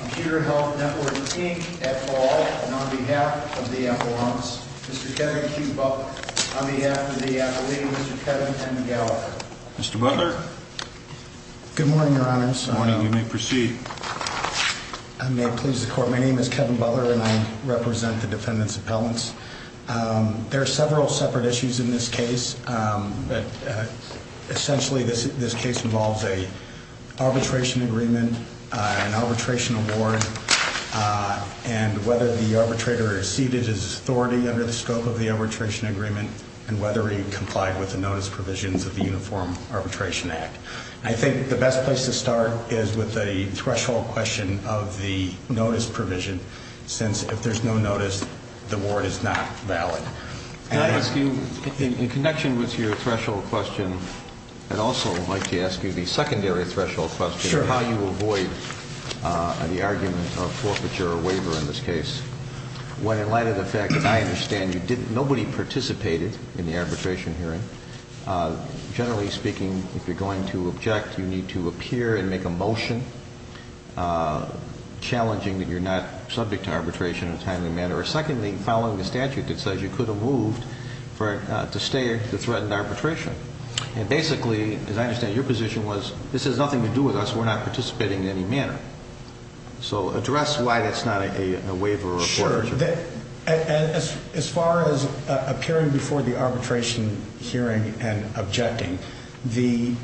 Computer Health Network, Inc. at Ball, and on behalf of the affluence, Mr. Kevin Q. Butler, on behalf of the affilee, Mr. Kevin N. Gallagher. Mr. Butler? Good morning, Your Honors. Good morning. You may proceed. I may please the Court. My name is Kevin Butler, and I represent the Affiliate Group, LLC, and I represent the Defendant's Appellants. There are several separate issues in this case. Essentially, this case involves an arbitration agreement, an arbitration award, and whether the arbitrator is seated as authority under the scope of the arbitration agreement and whether he complied with the notice provisions of the Uniform Arbitration Act. I think the best place to start is with the threshold question of the notice provision, since if there's no notice, the award is not valid. Can I ask you, in connection with your threshold question, I'd also like to ask you the secondary threshold question of how you avoid the argument of forfeiture or waiver in this case. In light of the fact that I understand nobody participated in the arbitration hearing, generally speaking, if you're going to object, you need to appear and make a motion challenging that you're not subject to arbitration in a timely manner, or secondly, following the statute that says you could have moved to stay to threaten arbitration. And basically, as I understand it, your position was, this has nothing to do with us. We're not participating in any manner. So address why that's not a waiver or forfeiture. Sure. As far as appearing before the arbitration hearing and objecting, the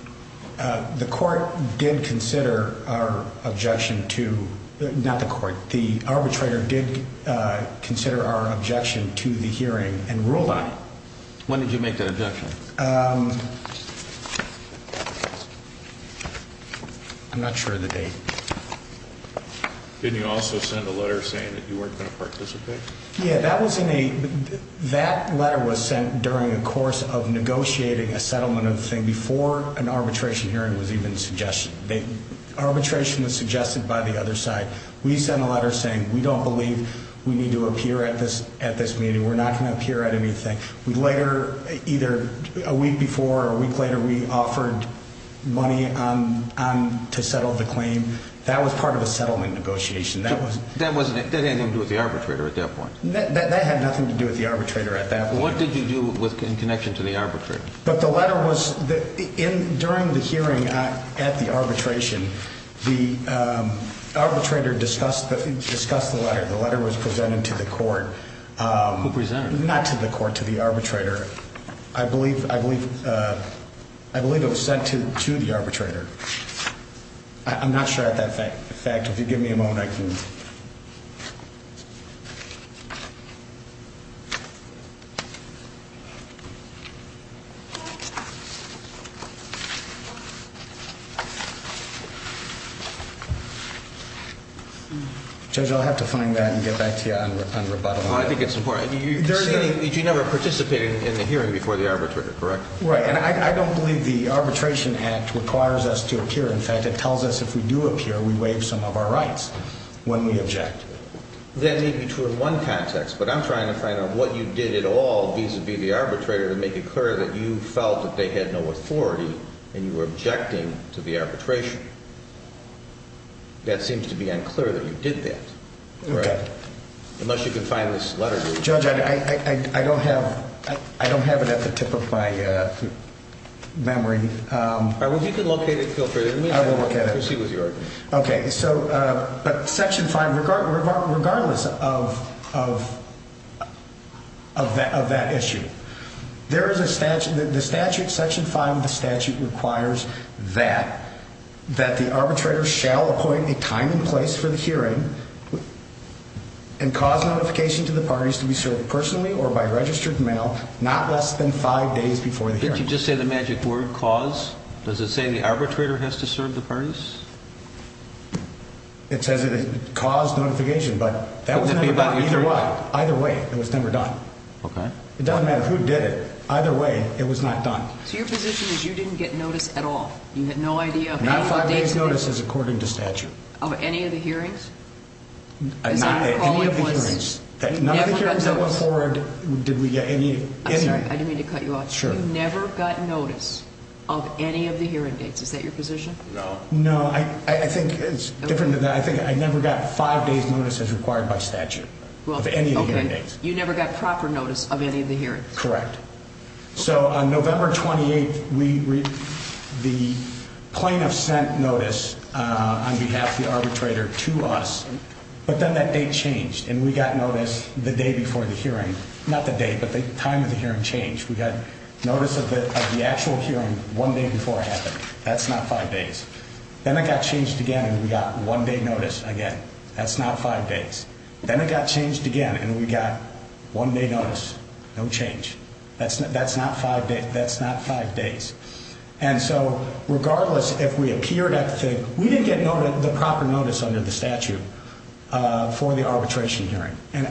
arbitrator did consider our objection to the hearing and ruled on it. When did you make that objection? I'm not sure of the date. Didn't he also send a letter saying that you weren't going to participate? Yeah, that letter was sent during the course of negotiating a settlement of the thing before an arbitration hearing was even suggested. Arbitration was suggested by the other side. We sent a letter saying we don't believe we need to appear at this meeting. We're not going to appear at anything. A week before or a week later, we offered money to settle the claim. That was part of a settlement negotiation. That had nothing to do with the arbitrator at that point? That had nothing to do with the arbitrator at that point. What did you do in connection to the arbitrator? During the hearing at the arbitration, the arbitrator discussed the letter. The letter was presented to the court. Who presented it? Not to the court, to the arbitrator. I believe it was sent to the arbitrator. I'm not sure of that fact. If you give me a moment, I can... Judge, I'll have to find that and get back to you on rebuttal. I think it's important. You never participated in the hearing before the arbitrator, correct? Right, and I don't believe the Arbitration Act requires us to appear. In fact, it tells us if we do appear, we waive some of our rights when we object. That may be true in one context, but I'm trying to find out what you did at all vis-à-vis the arbitrator to make it clear that you felt that they had no authority and you were objecting to the arbitration. That seems to be unclear that you did that. Okay. Unless you can find this letter to me. Judge, I don't have it at the tip of my memory. All right, well, if you can locate it, feel free. I will look at it. But Section 5, regardless of that issue, there is a statute. Section 5 of the statute requires that the arbitrator shall appoint a time and place for the hearing and cause notification to the parties to be served personally or by registered mail not less than five days before the hearing. Didn't you just say the magic word, cause? Does it say the arbitrator has to serve the parties? It says it caused notification, but that was never done. Either way, it was never done. It doesn't matter who did it. Either way, it was not done. So your position is you didn't get notice at all? Not five days' notice is according to statute. Of any of the hearings? None of the hearings that went forward did we get any. I'm sorry, I didn't mean to cut you off. You never got notice of any of the hearing dates. Is that your position? No. No, I think it's different than that. I think I never got five days' notice as required by statute of any of the hearing dates. You never got proper notice of any of the hearings? Correct. So on November 28th, the plaintiff sent notice on behalf of the arbitrator to us, but then that date changed and we got notice the day before the hearing. Not the date, but the time of the hearing changed. We got notice of the actual hearing one day before it happened. That's not five days. Then it got changed again and we got one day notice again. That's not five days. Then it got changed again and we got one day notice. No change. That's not five days. And so regardless, if we appeared at the thing, we didn't get the proper notice under the statute for the arbitration hearing. And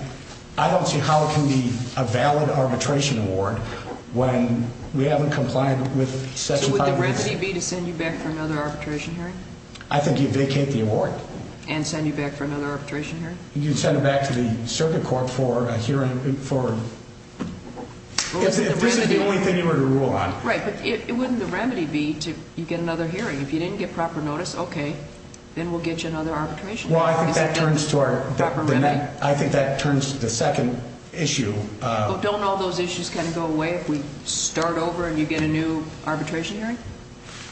I don't see how it can be a valid arbitration award when we haven't complied with section 5 of the statute. So would the remedy be to send you back for another arbitration hearing? I think you vacate the award. And send you back for another arbitration hearing? You'd send it back to the circuit court for a hearing. If this is the only thing you were to rule on. Right, but wouldn't the remedy be to get another hearing? If you didn't get proper notice, okay, then we'll get you another arbitration hearing. Well, I think that turns to the second issue. Don't all those issues kind of go away if we start over and you get a new arbitration hearing?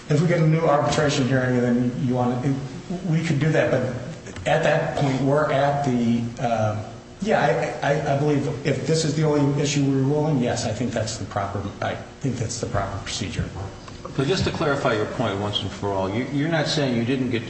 If we get a new arbitration hearing, then we could do that. But at that point, we're at the, yeah, I believe if this is the only issue we're ruling, yes, I think that's the proper procedure. Just to clarify your point once and for all, you're not saying you didn't get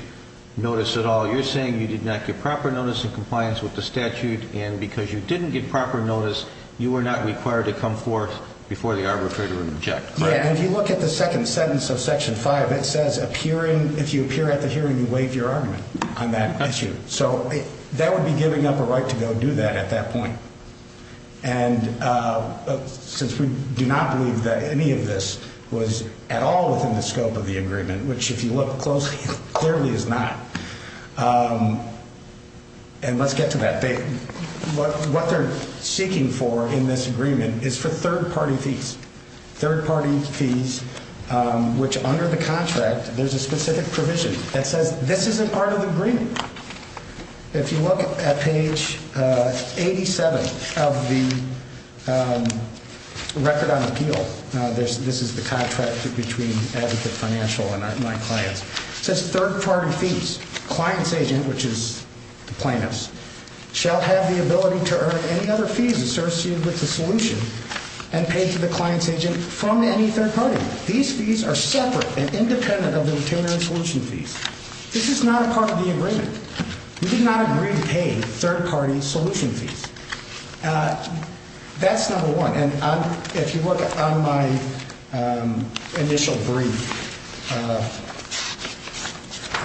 notice at all. You're saying you did not get proper notice in compliance with the statute. And because you didn't get proper notice, you were not required to come forth before the arbitrator would object. Yeah, and if you look at the second sentence of section five, it says appearing, if you appear at the hearing, you waive your argument on that issue. So that would be giving up a right to go do that at that point. And since we do not believe that any of this was at all within the scope of the agreement, which if you look closely, clearly is not. And let's get to that. What they're seeking for in this agreement is for third-party fees. Third-party fees, which under the contract, there's a specific provision that says this isn't part of the agreement. If you look at page 87 of the record on appeal, this is the contract between Advocate Financial and my clients. It says third-party fees. Client's agent, which is the plaintiff's, shall have the ability to earn any other fees associated with the solution and pay to the client's agent from any third party. These fees are separate and independent of the determinant solution fees. This is not a part of the agreement. We did not agree to pay third-party solution fees. That's number one. And if you look on my initial brief,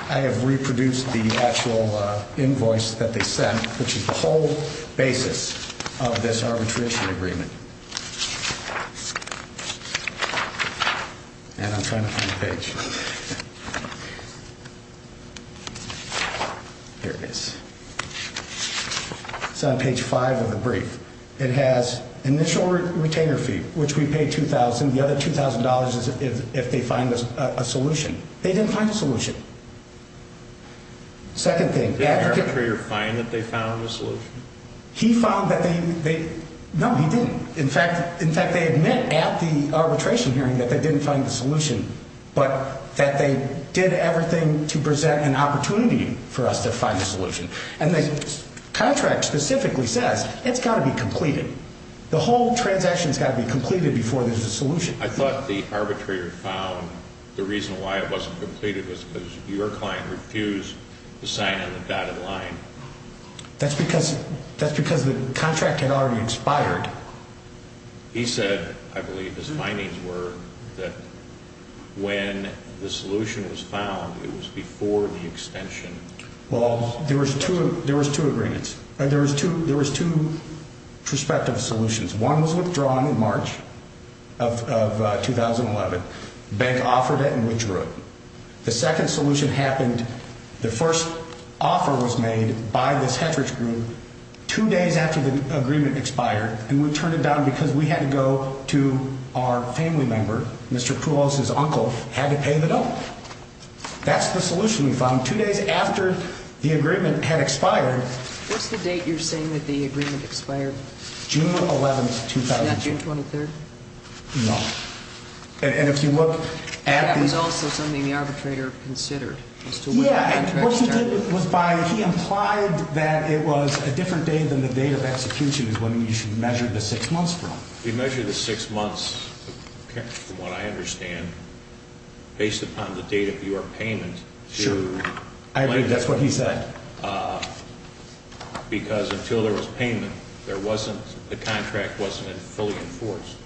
I have reproduced the actual invoice that they sent, which is the whole basis of this arbitration agreement. And I'm trying to find the page. Here it is. It's on page five of the brief. It has initial retainer fee, which we paid $2,000. The other $2,000 is if they find a solution. They didn't find a solution. Second thing. Did the arbitrator find that they found a solution? He found that they – no, he didn't. In fact, they admit at the arbitration hearing that they didn't find a solution, but that they did everything to present an opportunity for us to find a solution. And the contract specifically says it's got to be completed. The whole transaction's got to be completed before there's a solution. I thought the arbitrator found the reason why it wasn't completed was because your client refused to sign on the dotted line. That's because the contract had already expired. He said, I believe his findings were that when the solution was found, it was before the extension. Well, there was two agreements. There was two prospective solutions. One was withdrawn in March of 2011. Bank offered it and withdrew it. The second solution happened – the first offer was made by this heteroge group two days after the agreement expired, and we turned it down because we had to go to our family member, Mr. Pruos's uncle, had to pay the bill. That's the solution we found. Two days after the agreement had expired – What's the date you're saying that the agreement expired? June 11, 2012. Not June 23rd? No. And if you look at the – That was also something the arbitrator considered as to when the contract started. Yeah. What he did was by – he implied that it was a different date than the date of execution is when you should measure the six months from. We measure the six months, from what I understand, based upon the date of your payment. Sure. I agree. That's what he said. Because until there was payment, there wasn't – the contract wasn't fully enforced.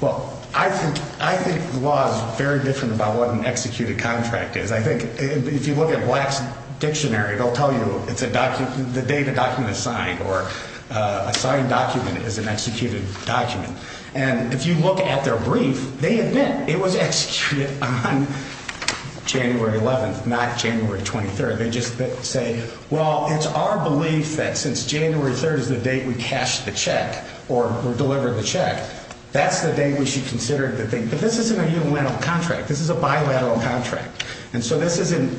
Well, I think the law is very different about what an executed contract is. I think if you look at Black's dictionary, it will tell you it's a document – the date a document is signed or a signed document is an executed document. And if you look at their brief, they admit it was executed on January 11th, not January 23rd. They just say, well, it's our belief that since January 3rd is the date we cashed the check or delivered the check, that's the date we should consider it. But this isn't a unilateral contract. This is a bilateral contract. And so this isn't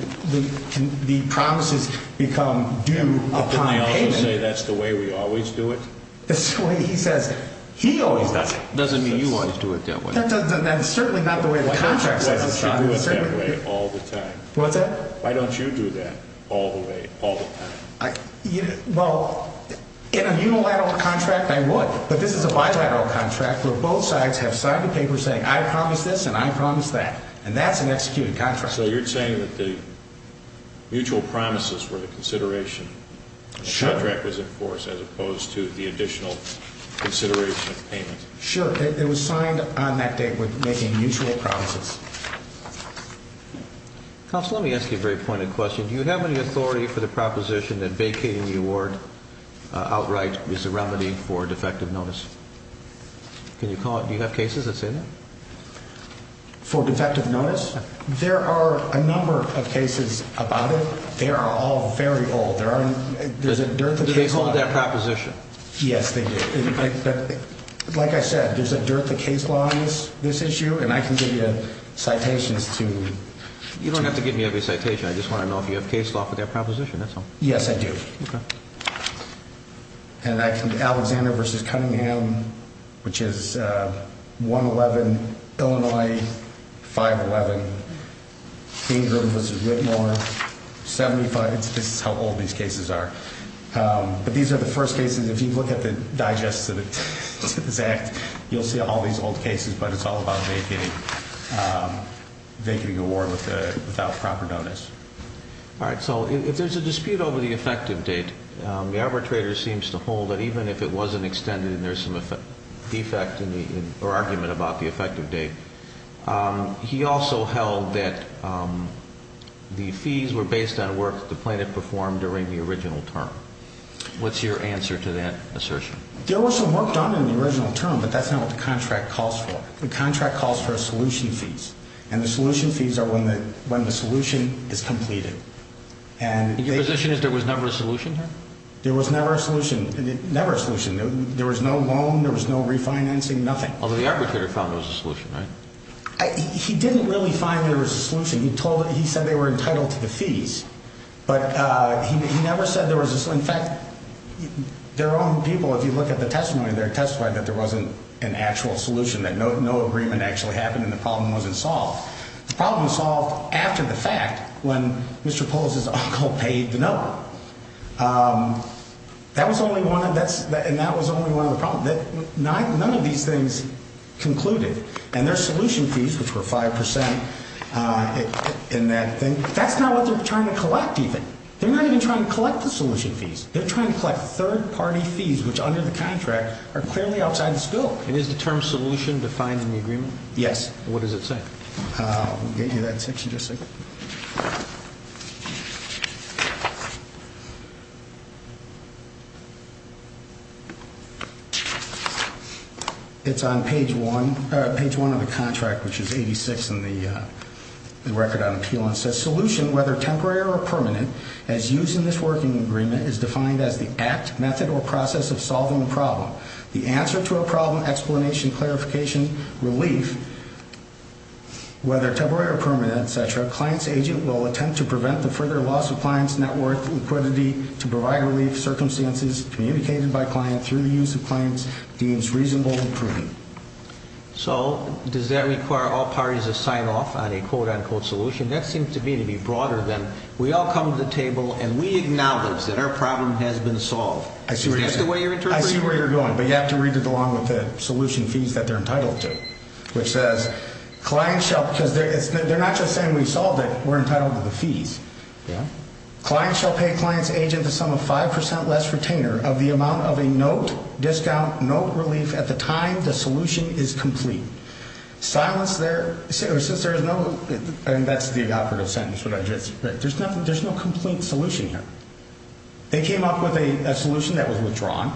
– the promises become due upon payment. Didn't they also say that's the way we always do it? The way he says he always does it. Doesn't mean you always do it that way. That's certainly not the way the contract says it's done. Why don't you do it that way all the time? What's that? Why don't you do that all the way, all the time? Well, in a unilateral contract, I would. But this is a bilateral contract where both sides have signed a paper saying I promise this and I promise that. And that's an executed contract. So you're saying that the mutual promises were the consideration. Sure. The contract was enforced as opposed to the additional consideration of payment. Sure. It was signed on that date with making mutual promises. Counsel, let me ask you a very pointed question. Do you have any authority for the proposition that vacating the award outright is a remedy for defective notice? Can you call it – do you have cases that say that? For defective notice? There are a number of cases about it. They are all very old. There's a dearth of case law. Do they hold that proposition? Yes, they do. Like I said, there's a dearth of case laws on this issue, and I can give you citations to – You don't have to give me every citation. I just want to know if you have case law for that proposition. That's all. Yes, I do. Okay. And I can – Alexander v. Cunningham, which is 111 Illinois 511. Bingram v. Whitmore, 75 – this is how old these cases are. But these are the first cases. If you look at the digest of this act, you'll see all these old cases, but it's all about vacating the award without proper notice. All right. So if there's a dispute over the effective date, the arbitrator seems to hold that even if it wasn't extended and there's some defect or argument about the effective date, he also held that the fees were based on work the plaintiff performed during the original term. What's your answer to that assertion? There was some work done in the original term, but that's not what the contract calls for. The contract calls for solution fees, and the solution fees are when the solution is completed. And your position is there was never a solution here? There was never a solution. Never a solution. There was no loan. There was no refinancing. Nothing. Although the arbitrator found there was a solution, right? He didn't really find there was a solution. He said they were entitled to the fees, but he never said there was a – because, in fact, their own people, if you look at the testimony there, testified that there wasn't an actual solution, that no agreement actually happened and the problem wasn't solved. The problem was solved after the fact when Mr. Polis' uncle paid the note. That was only one of the – and that was only one of the problems. None of these things concluded. And their solution fees, which were 5 percent in that thing, that's not what they're trying to collect even. They're not even trying to collect the solution fees. They're trying to collect third-party fees, which, under the contract, are clearly outside the scope. And is the term solution defined in the agreement? Yes. What does it say? I'll give you that section just a second. It's on page 1 of the contract, which is 86 in the record on appeal. It says, solution, whether temporary or permanent, as used in this working agreement, is defined as the act, method, or process of solving the problem. The answer to a problem, explanation, clarification, relief, whether temporary or permanent, et cetera, client's agent will attempt to prevent the further loss of client's net worth, liquidity to provide relief, circumstances communicated by client through the use of client's deems reasonable and prudent. So does that require all parties to sign off on a quote-unquote solution? That seems to me to be broader than we all come to the table and we acknowledge that our problem has been solved. Is that the way you're interpreting it? I see where you're going, but you have to read it along with the solution fees that they're entitled to, which says, client shall, because they're not just saying we solved it, we're entitled to the fees. Yeah. Client shall pay client's agent the sum of 5% less retainer of the amount of a note, discount, note relief at the time the solution is complete. Silence there. Since there is no, and that's the operative sentence, what I just, there's no complete solution here. They came up with a solution that was withdrawn.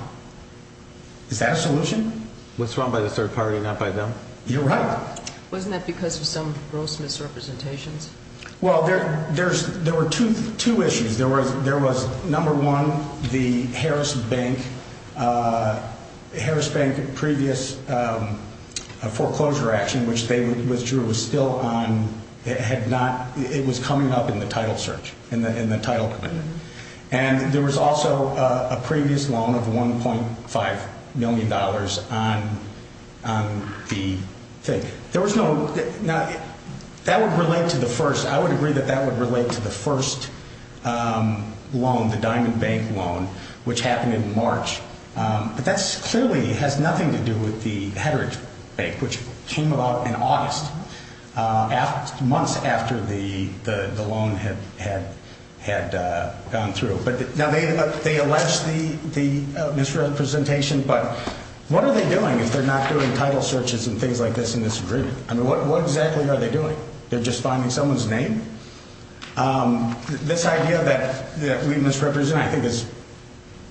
Is that a solution? What's wrong by the third party and not by them? You're right. Wasn't that because of some gross misrepresentations? Well, there were two issues. There was number one, the Harris Bank, Harris Bank previous foreclosure action, which they withdrew, was still on, it had not, it was coming up in the title search, in the title. And there was also a previous loan of $1.5 million on the thing. There was no, now, that would relate to the first, I would agree that that would relate to the first loan, the Diamond Bank loan, which happened in March. But that clearly has nothing to do with the Hedrick Bank, which came about in August, months after the loan had gone through. Now, they allege the misrepresentation, but what are they doing if they're not doing title searches and things like this in this agreement? I mean, what exactly are they doing? They're just finding someone's name? This idea that we misrepresent, I think, is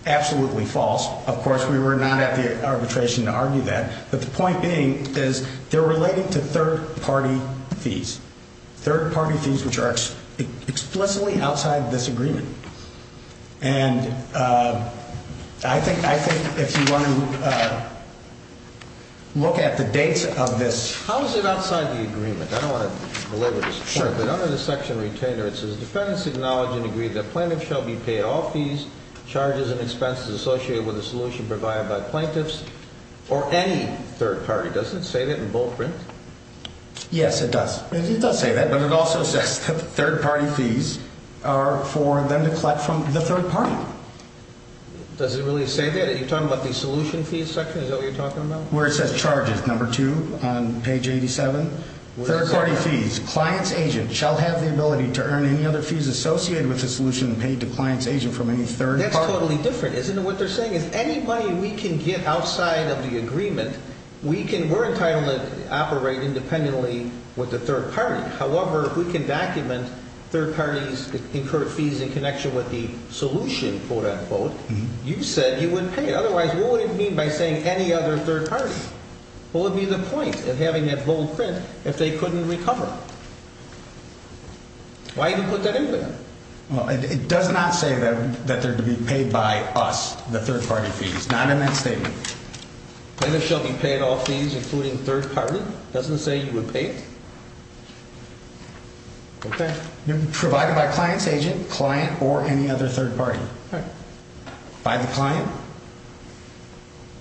absolutely false. Of course, we were not at the arbitration to argue that. But the point being is they're relating to third-party fees, third-party fees which are explicitly outside this agreement. And I think if you want to look at the dates of this. How is it outside the agreement? I don't want to belabor this point, but under the section retainer, it says, defendants acknowledge and agree that plaintiffs shall be paid all fees, charges, and expenses associated with the solution provided by plaintiffs or any third party. Does it say that in bold print? Yes, it does. It does say that, but it also says that third-party fees are for them to collect from the third party. Does it really say that? Are you talking about the solution fees section? Is that what you're talking about? Where it says charges, number two, on page 87. Third-party fees. Client's agent shall have the ability to earn any other fees associated with the solution paid to client's agent from any third party. That's totally different, isn't it? What they're saying is any money we can get outside of the agreement, we're entitled to operate independently with the third party. However, if we can document third parties' incurred fees in connection with the solution, quote, unquote, you said you wouldn't pay. Otherwise, what would it mean by saying any other third party? What would be the point of having that bold print if they couldn't recover? Why do you put that in there? It does not say that they're to be paid by us, the third-party fees. Not in that statement. Plaintiffs shall be paid all fees including third party? It doesn't say you would pay it? Okay. Provided by client's agent, client, or any other third party. By the client?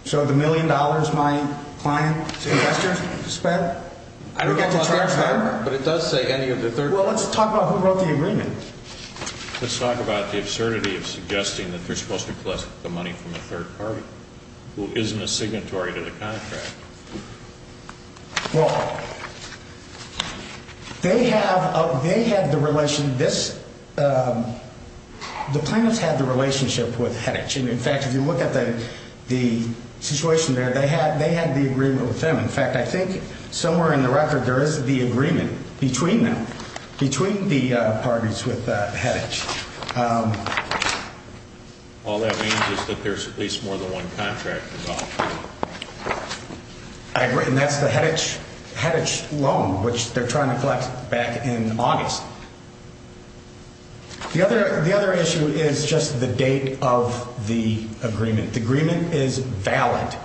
So the million dollars my client suggested to spend, I don't get to charge her? But it does say any of the third party. Well, let's talk about who wrote the agreement. Let's talk about the absurdity of suggesting that they're supposed to collect the money from the third party, who isn't a signatory to the contract. Well, they have the relation, this, the plaintiffs had the relationship with HEDG. And, in fact, if you look at the situation there, they had the agreement with them. In fact, I think somewhere in the record there is the agreement between them, between the parties with HEDG. All that means is that there's at least more than one contract involved. I agree. And that's the HEDG loan, which they're trying to collect back in August. The other issue is just the date of the agreement. The agreement is valid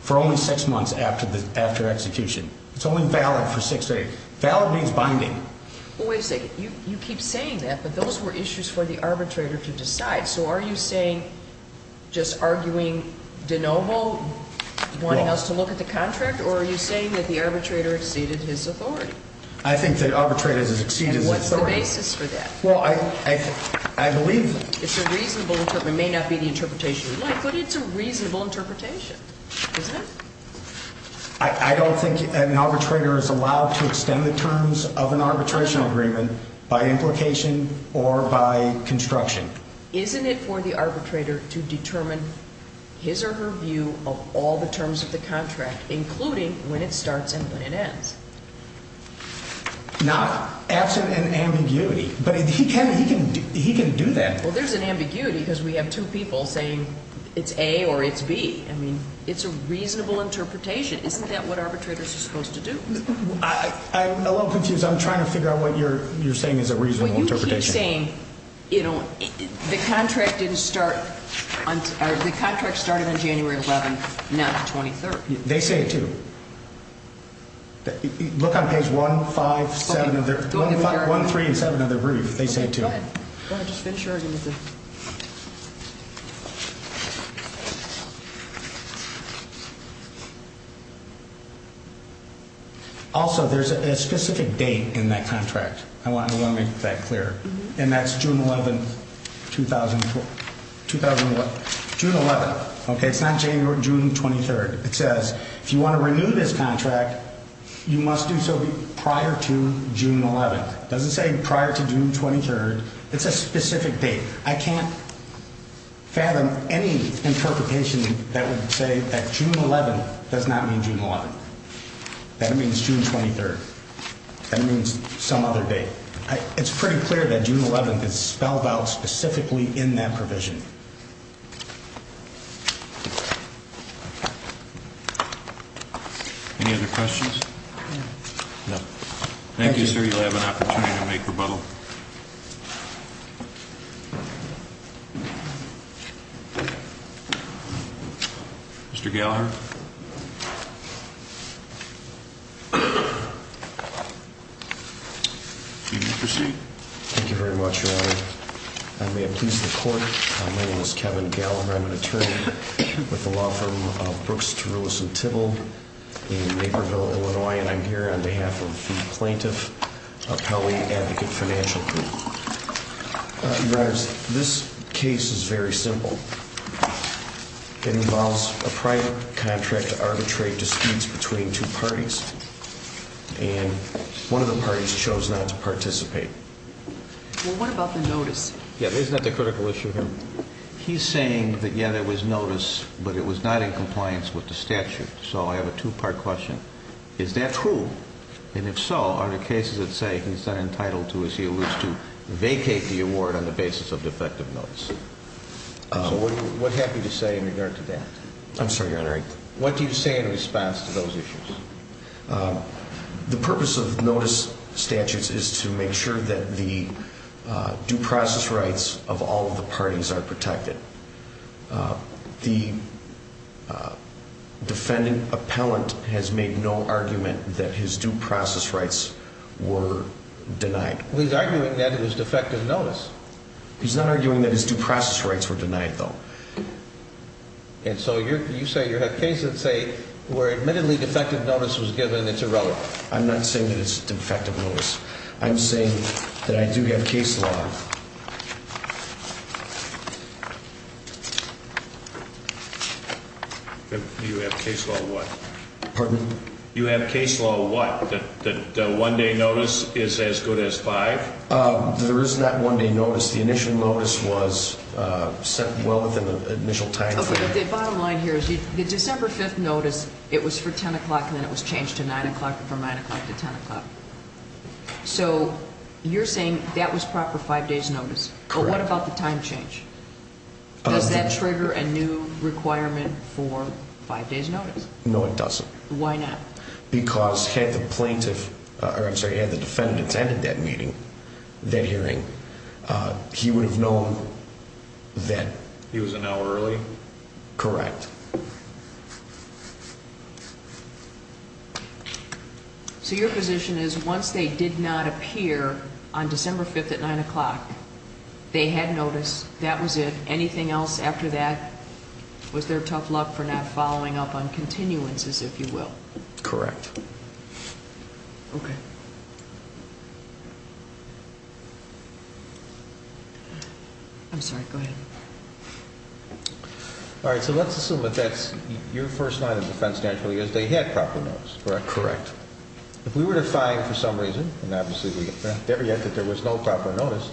for only six months after execution. It's only valid for six days. Valid means binding. Well, wait a second. You keep saying that, but those were issues for the arbitrator to decide. So are you saying just arguing de novo, wanting us to look at the contract, or are you saying that the arbitrator exceeded his authority? I think the arbitrator has exceeded his authority. And what's the basis for that? Well, I believe that. It's a reasonable interpretation. It may not be the interpretation you'd like, but it's a reasonable interpretation, isn't it? I don't think an arbitrator is allowed to extend the terms of an arbitration agreement by implication or by construction. Isn't it for the arbitrator to determine his or her view of all the terms of the contract, including when it starts and when it ends? Not absent an ambiguity, but he can do that. Well, there's an ambiguity because we have two people saying it's A or it's B. I mean, it's a reasonable interpretation. Isn't that what arbitrators are supposed to do? I'm a little confused. I'm trying to figure out what you're saying is a reasonable interpretation. Well, you keep saying, you know, the contract started on January 11th, not the 23rd. They say it, too. Look on page 1, 5, 7 of their – 1, 3 and 7 of their brief. They say it, too. Go ahead. Just finish your argument. Also, there's a specific date in that contract. I want to make that clear. And that's June 11th, 2001. June 11th. Okay, it's not January or June 23rd. It says if you want to renew this contract, you must do so prior to June 11th. It doesn't say prior to June 23rd. It's a specific date. I can't fathom any interpretation that would say that June 11th does not mean June 11th. That means June 23rd. That means some other date. It's pretty clear that June 11th is spelled out specifically in that provision. Any other questions? No. Thank you, sir. You'll have an opportunity to make rebuttal. Mr. Gallagher? You may proceed. Thank you very much, Your Honor. I may have pleased the court. My name is Kevin Gallagher. I'm an attorney with the law firm of Brooks, Terullis & Tibble in Naperville, Illinois. And I'm here on behalf of the Plaintiff Appellee Advocate Financial Group. Your Honors, this case is very simple. It involves a private contract to arbitrate disputes between two parties. And one of the parties chose not to participate. Well, what about the notice? Yeah, isn't that the critical issue here? He's saying that, yeah, there was notice, but it was not in compliance with the statute. So I have a two-part question. Is that true? And if so, are there cases that say he's not entitled to, as he alludes to, vacate the award on the basis of defective notice? So what have you to say in regard to that? I'm sorry, Your Honor. What do you say in response to those issues? The purpose of notice statutes is to make sure that the due process rights of all of the parties are protected. The defendant appellant has made no argument that his due process rights were denied. Well, he's arguing that it was defective notice. He's not arguing that his due process rights were denied, though. And so you say you have cases that say where admittedly defective notice was given, it's irrelevant. I'm not saying that it's defective notice. I'm saying that I do have case law. You have case law what? Pardon me? You have case law what, that the one-day notice is as good as five? There is not one-day notice. The initial notice was set well within the initial timeframe. Okay, but the bottom line here is the December 5th notice, it was for 10 o'clock, and then it was changed to 9 o'clock, from 9 o'clock to 10 o'clock. So you're saying that was proper five-days notice. Correct. What about the time change? Does that trigger a new requirement for five-days notice? No, it doesn't. Why not? Because had the plaintiff, or I'm sorry, had the defendant attended that meeting, that hearing, he would have known that. He was an hour early? Correct. So your position is once they did not appear on December 5th at 9 o'clock, they had notice, that was it. Anything else after that was their tough luck for not following up on continuances, if you will. Correct. Okay. I'm sorry, go ahead. All right, so let's assume that that's your first line of defense naturally is they had proper notice, correct? Correct. If we were to find for some reason, and obviously we have never yet that there was no proper notice,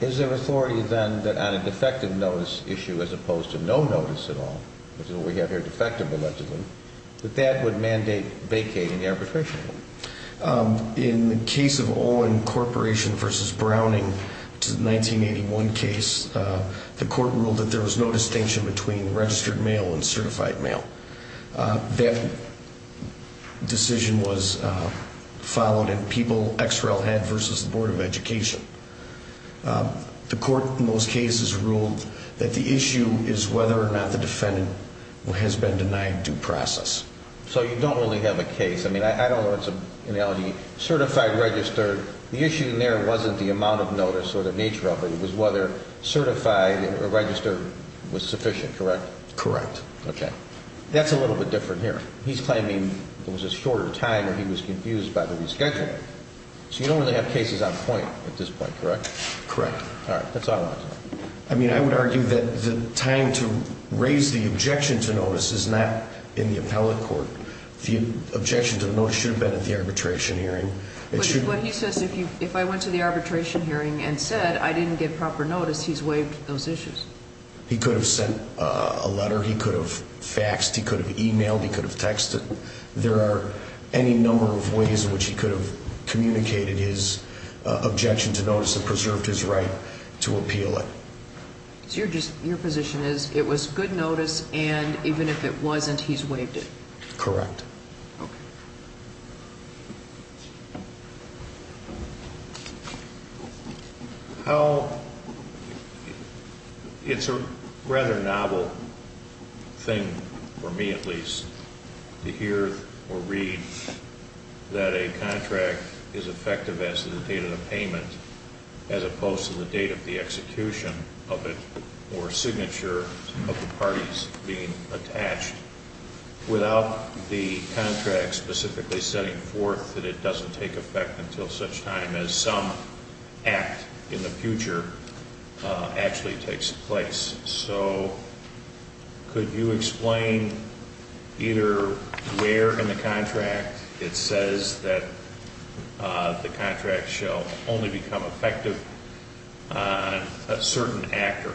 is there authority then that on a defective notice issue as opposed to no notice at all, which is what we have here, defective allegedly, that that would mandate vacating the arbitration? In the case of Olin Corporation versus Browning, which is the 1981 case, the court ruled that there was no distinction between registered mail and certified mail. That decision was followed in people XREL had versus the Board of Education. The court in those cases ruled that the issue is whether or not the defendant has been denied due process. So you don't really have a case. I mean, I don't know if it's an analogy. Certified, registered, the issue there wasn't the amount of notice or the nature of it. It was whether certified or registered was sufficient, correct? Correct. Okay. That's a little bit different here. He's claiming there was a shorter time or he was confused by the reschedule. So you don't really have cases on point at this point, correct? Correct. All right, that's all I wanted to know. I mean, I would argue that the time to raise the objection to notice is not in the appellate court. The objection to the notice should have been at the arbitration hearing. But he says if I went to the arbitration hearing and said I didn't get proper notice, he's waived those issues. He could have sent a letter. He could have faxed. He could have emailed. He could have texted. There are any number of ways in which he could have communicated his objection to notice and preserved his right to appeal it. So your position is it was good notice and even if it wasn't, he's waived it? Correct. Okay. It's a rather novel thing, for me at least, to hear or read that a contract is effective as to the date of the payment, as opposed to the date of the execution of it or signature of the parties being attached, without the contract specifically setting forth that it doesn't take effect until such time as some act in the future actually takes place. So could you explain either where in the contract it says that the contract shall only become effective on a certain act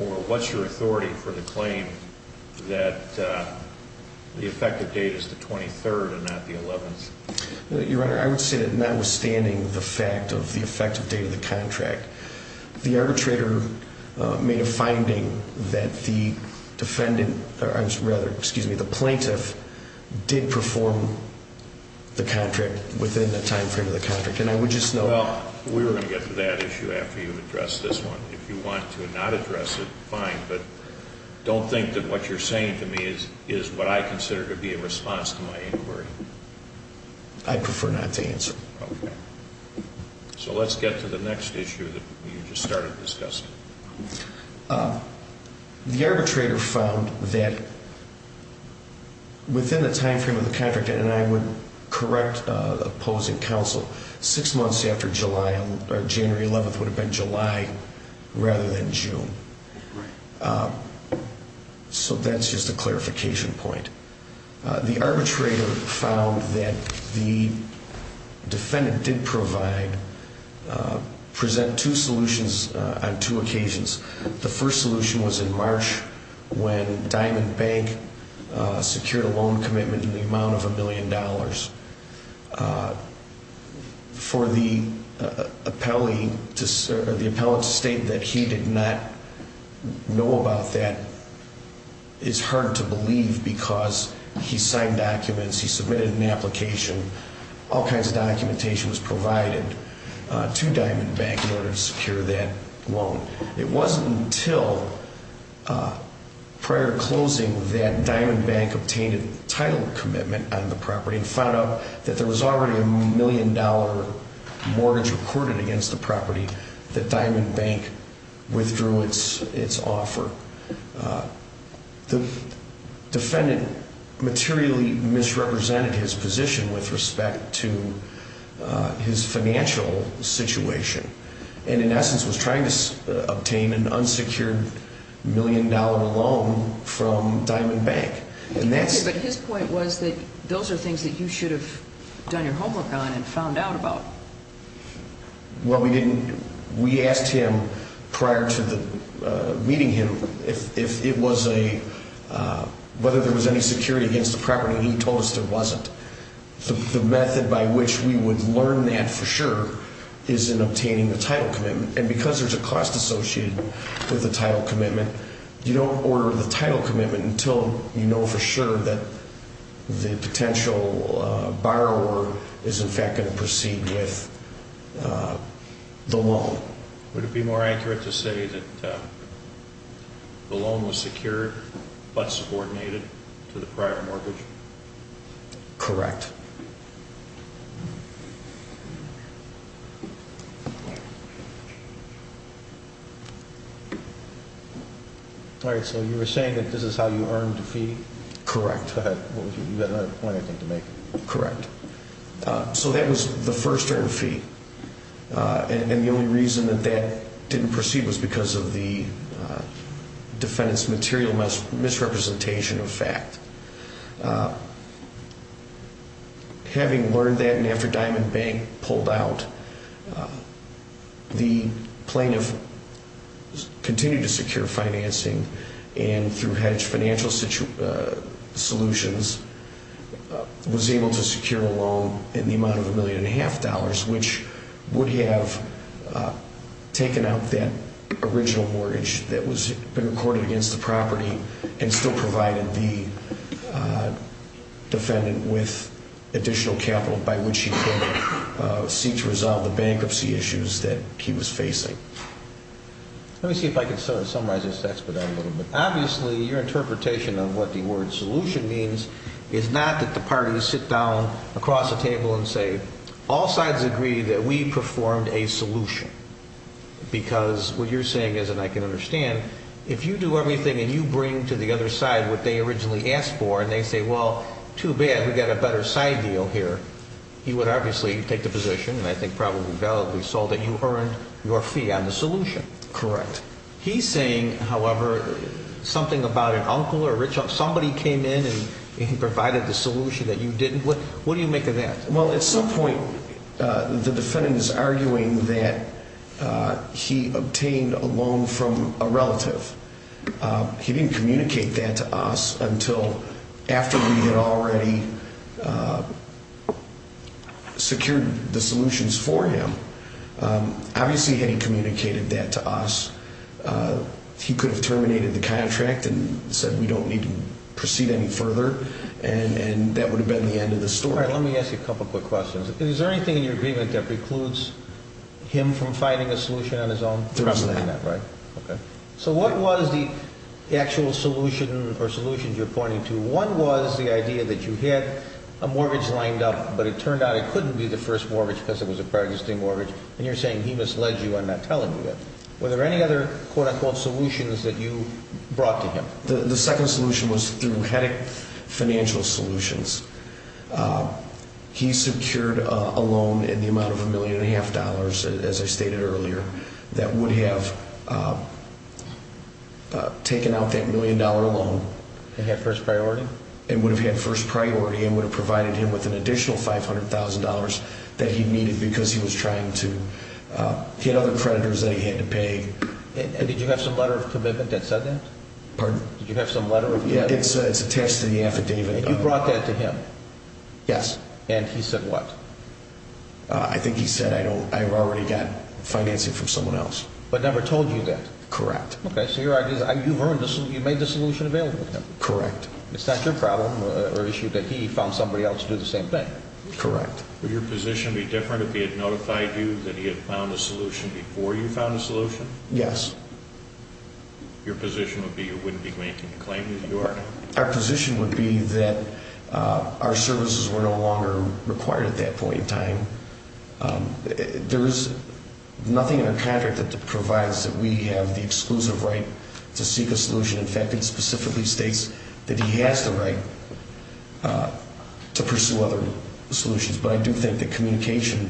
or what's your authority for the claim that the effective date is the 23rd and not the 11th? Your Honor, I would say that notwithstanding the fact of the effective date of the contract, the arbitrator made a finding that the plaintiff did perform the contract within the timeframe of the contract. Well, we're going to get to that issue after you address this one. If you want to not address it, fine, but don't think that what you're saying to me is what I consider to be a response to my inquiry. I'd prefer not to answer. Okay. So let's get to the next issue that you just started discussing. The arbitrator found that within the timeframe of the contract, and I would correct opposing counsel, six months after January 11th would have been July rather than June. Right. So that's just a clarification point. The arbitrator found that the defendant did present two solutions on two occasions. The first solution was in March when Diamond Bank secured a loan commitment in the amount of $1 million. For the appellate to state that he did not know about that is hard to believe because he signed documents, he submitted an application, all kinds of documentation was provided to Diamond Bank in order to secure that loan. It wasn't until prior to closing that Diamond Bank obtained a title commitment on the property and found out that there was already a $1 million mortgage recorded against the property that Diamond Bank withdrew its offer. The defendant materially misrepresented his position with respect to his financial situation and in essence was trying to obtain an unsecured $1 million loan from Diamond Bank. Okay, but his point was that those are things that you should have done your homework on and found out about. Well, we didn't. We asked him prior to meeting him whether there was any security against the property, and he told us there wasn't. The method by which we would learn that for sure is in obtaining the title commitment, and because there's a cost associated with the title commitment, you don't order the title commitment until you know for sure that the potential borrower is in fact going to proceed with the loan. Would it be more accurate to say that the loan was secured but subordinated to the prior mortgage? Correct. All right, so you were saying that this is how you earned the fee? Correct. You've got another point, I think, to make. Correct. So that was the first earned fee, and the only reason that that didn't proceed was because of the defendant's material misrepresentation of fact. Having learned that and after Diamond Bank pulled out, the plaintiff continued to secure financing and through hedge financial solutions was able to secure a loan in the amount of $1.5 million, which would have taken out that original mortgage that had been recorded against the property and still provided the defendant with additional capital by which he could seek to resolve the bankruptcy issues that he was facing. Let me see if I can summarize this expedite a little bit. Obviously, your interpretation of what the word solution means is not that the parties sit down across the table and say, all sides agree that we performed a solution because what you're saying is, and I can understand, if you do everything and you bring to the other side what they originally asked for and they say, well, too bad, we've got a better side deal here, he would obviously take the position, and I think probably validly so, that you earned your fee on the solution. Correct. He's saying, however, something about an uncle, somebody came in and provided the solution that you didn't. What do you make of that? Well, at some point, the defendant is arguing that he obtained a loan from a relative. He didn't communicate that to us until after we had already secured the solutions for him. Obviously, had he communicated that to us, he could have terminated the contract and said we don't need to proceed any further, and that would have been the end of the story. All right, let me ask you a couple quick questions. Is there anything in your agreement that precludes him from finding a solution on his own? There is not. So what was the actual solution or solutions you're pointing to? One was the idea that you had a mortgage lined up, but it turned out it couldn't be the first mortgage because it was a prior existing mortgage, and you're saying he misled you on not telling you that. Were there any other quote-unquote solutions that you brought to him? The second solution was through Hedick Financial Solutions. He secured a loan in the amount of $1.5 million, as I stated earlier, that would have taken out that $1 million loan. And had first priority? It would have had first priority and would have provided him with an additional $500,000 that he needed because he was trying to get other creditors that he had to pay. And did you have some letter of commitment that said that? Pardon? Did you have some letter of commitment? Yeah, it's attached to the affidavit. And you brought that to him? Yes. And he said what? I think he said, I've already got financing from someone else. But never told you that? Correct. Okay, so your idea is you made the solution available to him? Correct. It's not your problem or issue that he found somebody else to do the same thing? Correct. Would your position be different if he had notified you that he had found a solution before you found a solution? Yes. Your position would be you wouldn't be making the claim that you are? Our position would be that our services were no longer required at that point in time. There is nothing in our contract that provides that we have the exclusive right to seek a solution. In fact, it specifically states that he has the right to pursue other solutions. But I do think that communication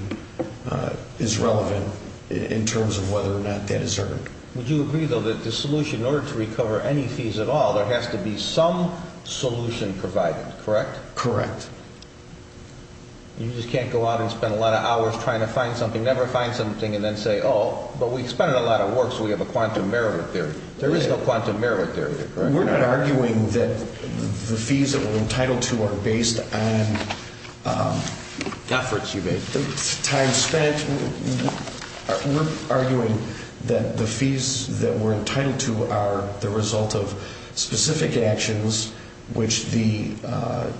is relevant in terms of whether or not that is earned. Would you agree, though, that the solution, in order to recover any fees at all, there has to be some solution provided, correct? Correct. You just can't go out and spend a lot of hours trying to find something, never find something, and then say, oh, but we've spent a lot of work, so we have a quantum merit there. There is no quantum merit there either, correct? We're not arguing that the fees that we're entitled to are based on efforts you've made, time spent. We're arguing that the fees that we're entitled to are the result of specific actions which the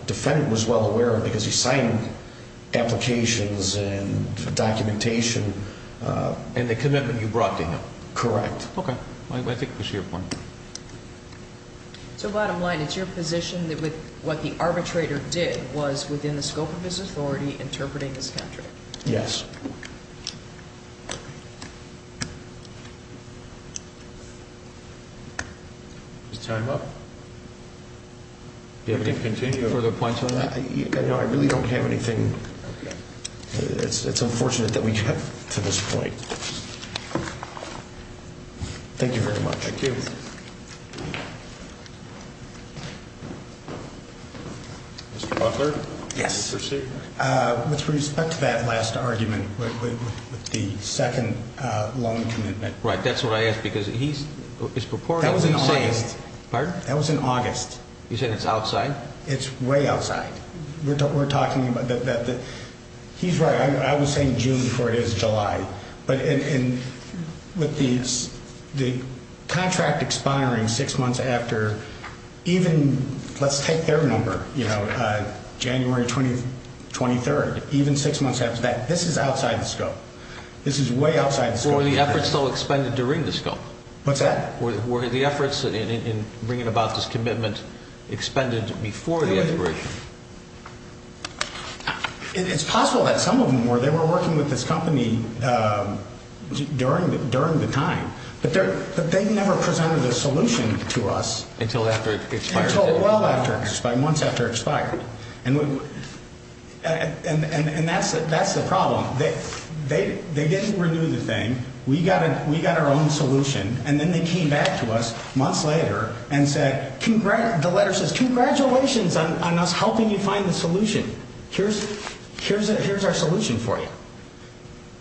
defendant was well aware of because he signed applications and documentation. And the commitment you brought to him. Correct. Okay. I think I see your point. So bottom line, it's your position that what the arbitrator did was within the scope of his authority, interpreting his contract? Yes. Is time up? Do you have any further points on that? No, I really don't have anything. It's unfortunate that we have to this point. Thank you very much. Thank you. Mr. Butler? Yes. With respect to that last argument with the second loan commitment. Right, that's what I asked because he's purported to be saying – That was in August. Pardon? That was in August. You said it's outside? It's way outside. We're talking about that. He's right. I was saying June before it is July. But with the contract expiring six months after even, let's take their number, January 23rd, even six months after that, this is outside the scope. This is way outside the scope. Were the efforts still expended during the scope? What's that? Were the efforts in bringing about this commitment expended before the expiration? It's possible that some of them were. They were working with this company during the time. But they never presented a solution to us. Until after it expired. Until well after – months after it expired. And that's the problem. They didn't renew the thing. We got our own solution. And then they came back to us months later and said – the letter says, congratulations on us helping you find the solution. Here's our solution for you.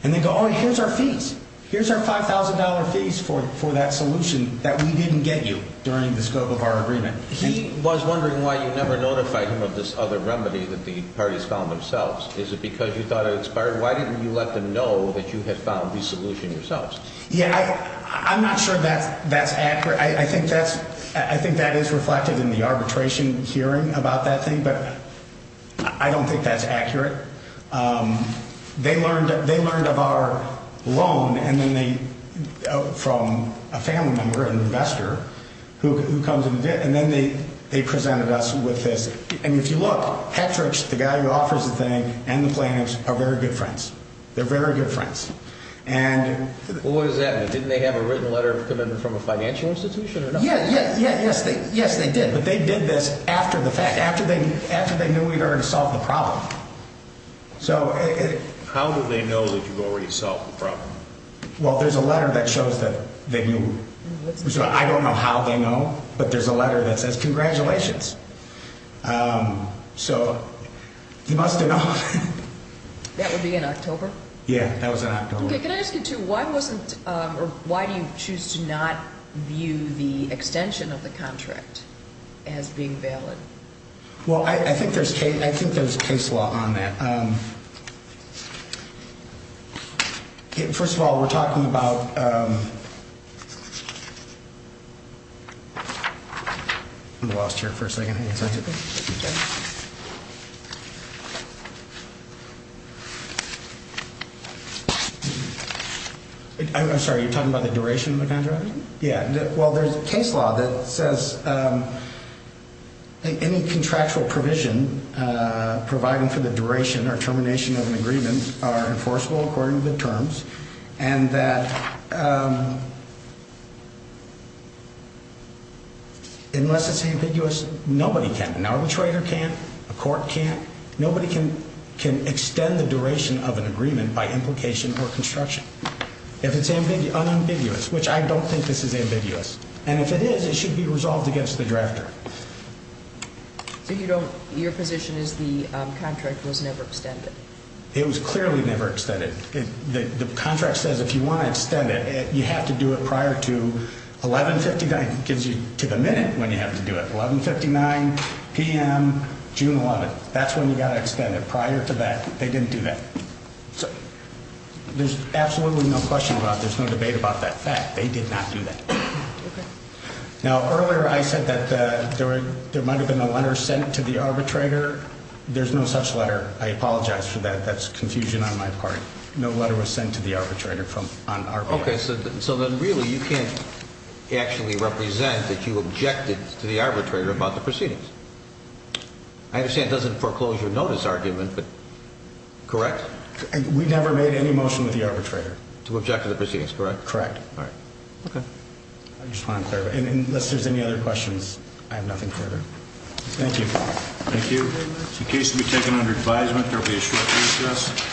And they go, oh, here's our fees. Here's our $5,000 fees for that solution that we didn't get you during the scope of our agreement. He was wondering why you never notified him of this other remedy that the parties found themselves. Is it because you thought it expired? Why didn't you let them know that you had found the solution yourselves? Yeah, I'm not sure that's accurate. I think that's – I think that is reflected in the arbitration hearing about that thing. But I don't think that's accurate. They learned of our loan and then they – from a family member, an investor, who comes in. And then they presented us with this. And if you look, Patrick's, the guy who offers the thing, and the plaintiffs are very good friends. They're very good friends. And – Well, what does that mean? Didn't they have a written letter coming from a financial institution or no? Yeah, yeah, yes, they did. But they did this after the fact, after they knew we'd already solved the problem. So – How do they know that you've already solved the problem? Well, there's a letter that shows that they knew. I don't know how they know, but there's a letter that says, congratulations. So you must have known. That would be in October? Yeah, that was in October. Okay, can I ask you two, why wasn't – or why do you choose to not view the extension of the contract as being valid? Well, I think there's case law on that. First of all, we're talking about – I'm lost here for a second. I'm sorry, you're talking about the duration of the contract? Yeah, well, there's case law that says any contractual provision providing for the duration or termination of an agreement are enforceable according to the terms, and that unless it's ambiguous, nobody can. An arbitrator can't. A court can't. Nobody can extend the duration of an agreement by implication or construction if it's unambiguous, which I don't think this is ambiguous. And if it is, it should be resolved against the drafter. So you don't – your position is the contract was never extended? It was clearly never extended. The contract says if you want to extend it, you have to do it prior to 1159. It gives you to the minute when you have to do it, 1159 p.m. June 11th. That's when you've got to extend it, prior to that. They didn't do that. So there's absolutely no question about it. There's no debate about that fact. They did not do that. Okay. Now, earlier I said that there might have been a letter sent to the arbitrator. There's no such letter. I apologize for that. That's confusion on my part. No letter was sent to the arbitrator on our part. Okay. So then really you can't actually represent that you objected to the arbitrator about the proceedings. I understand it doesn't foreclose your notice argument, but correct? We never made any motion with the arbitrator. To object to the proceedings, correct? Correct. All right. Okay. I just want to clarify. Unless there's any other questions, I have nothing further. Thank you. Thank you. The case will be taken under advisement. There will be a short recess.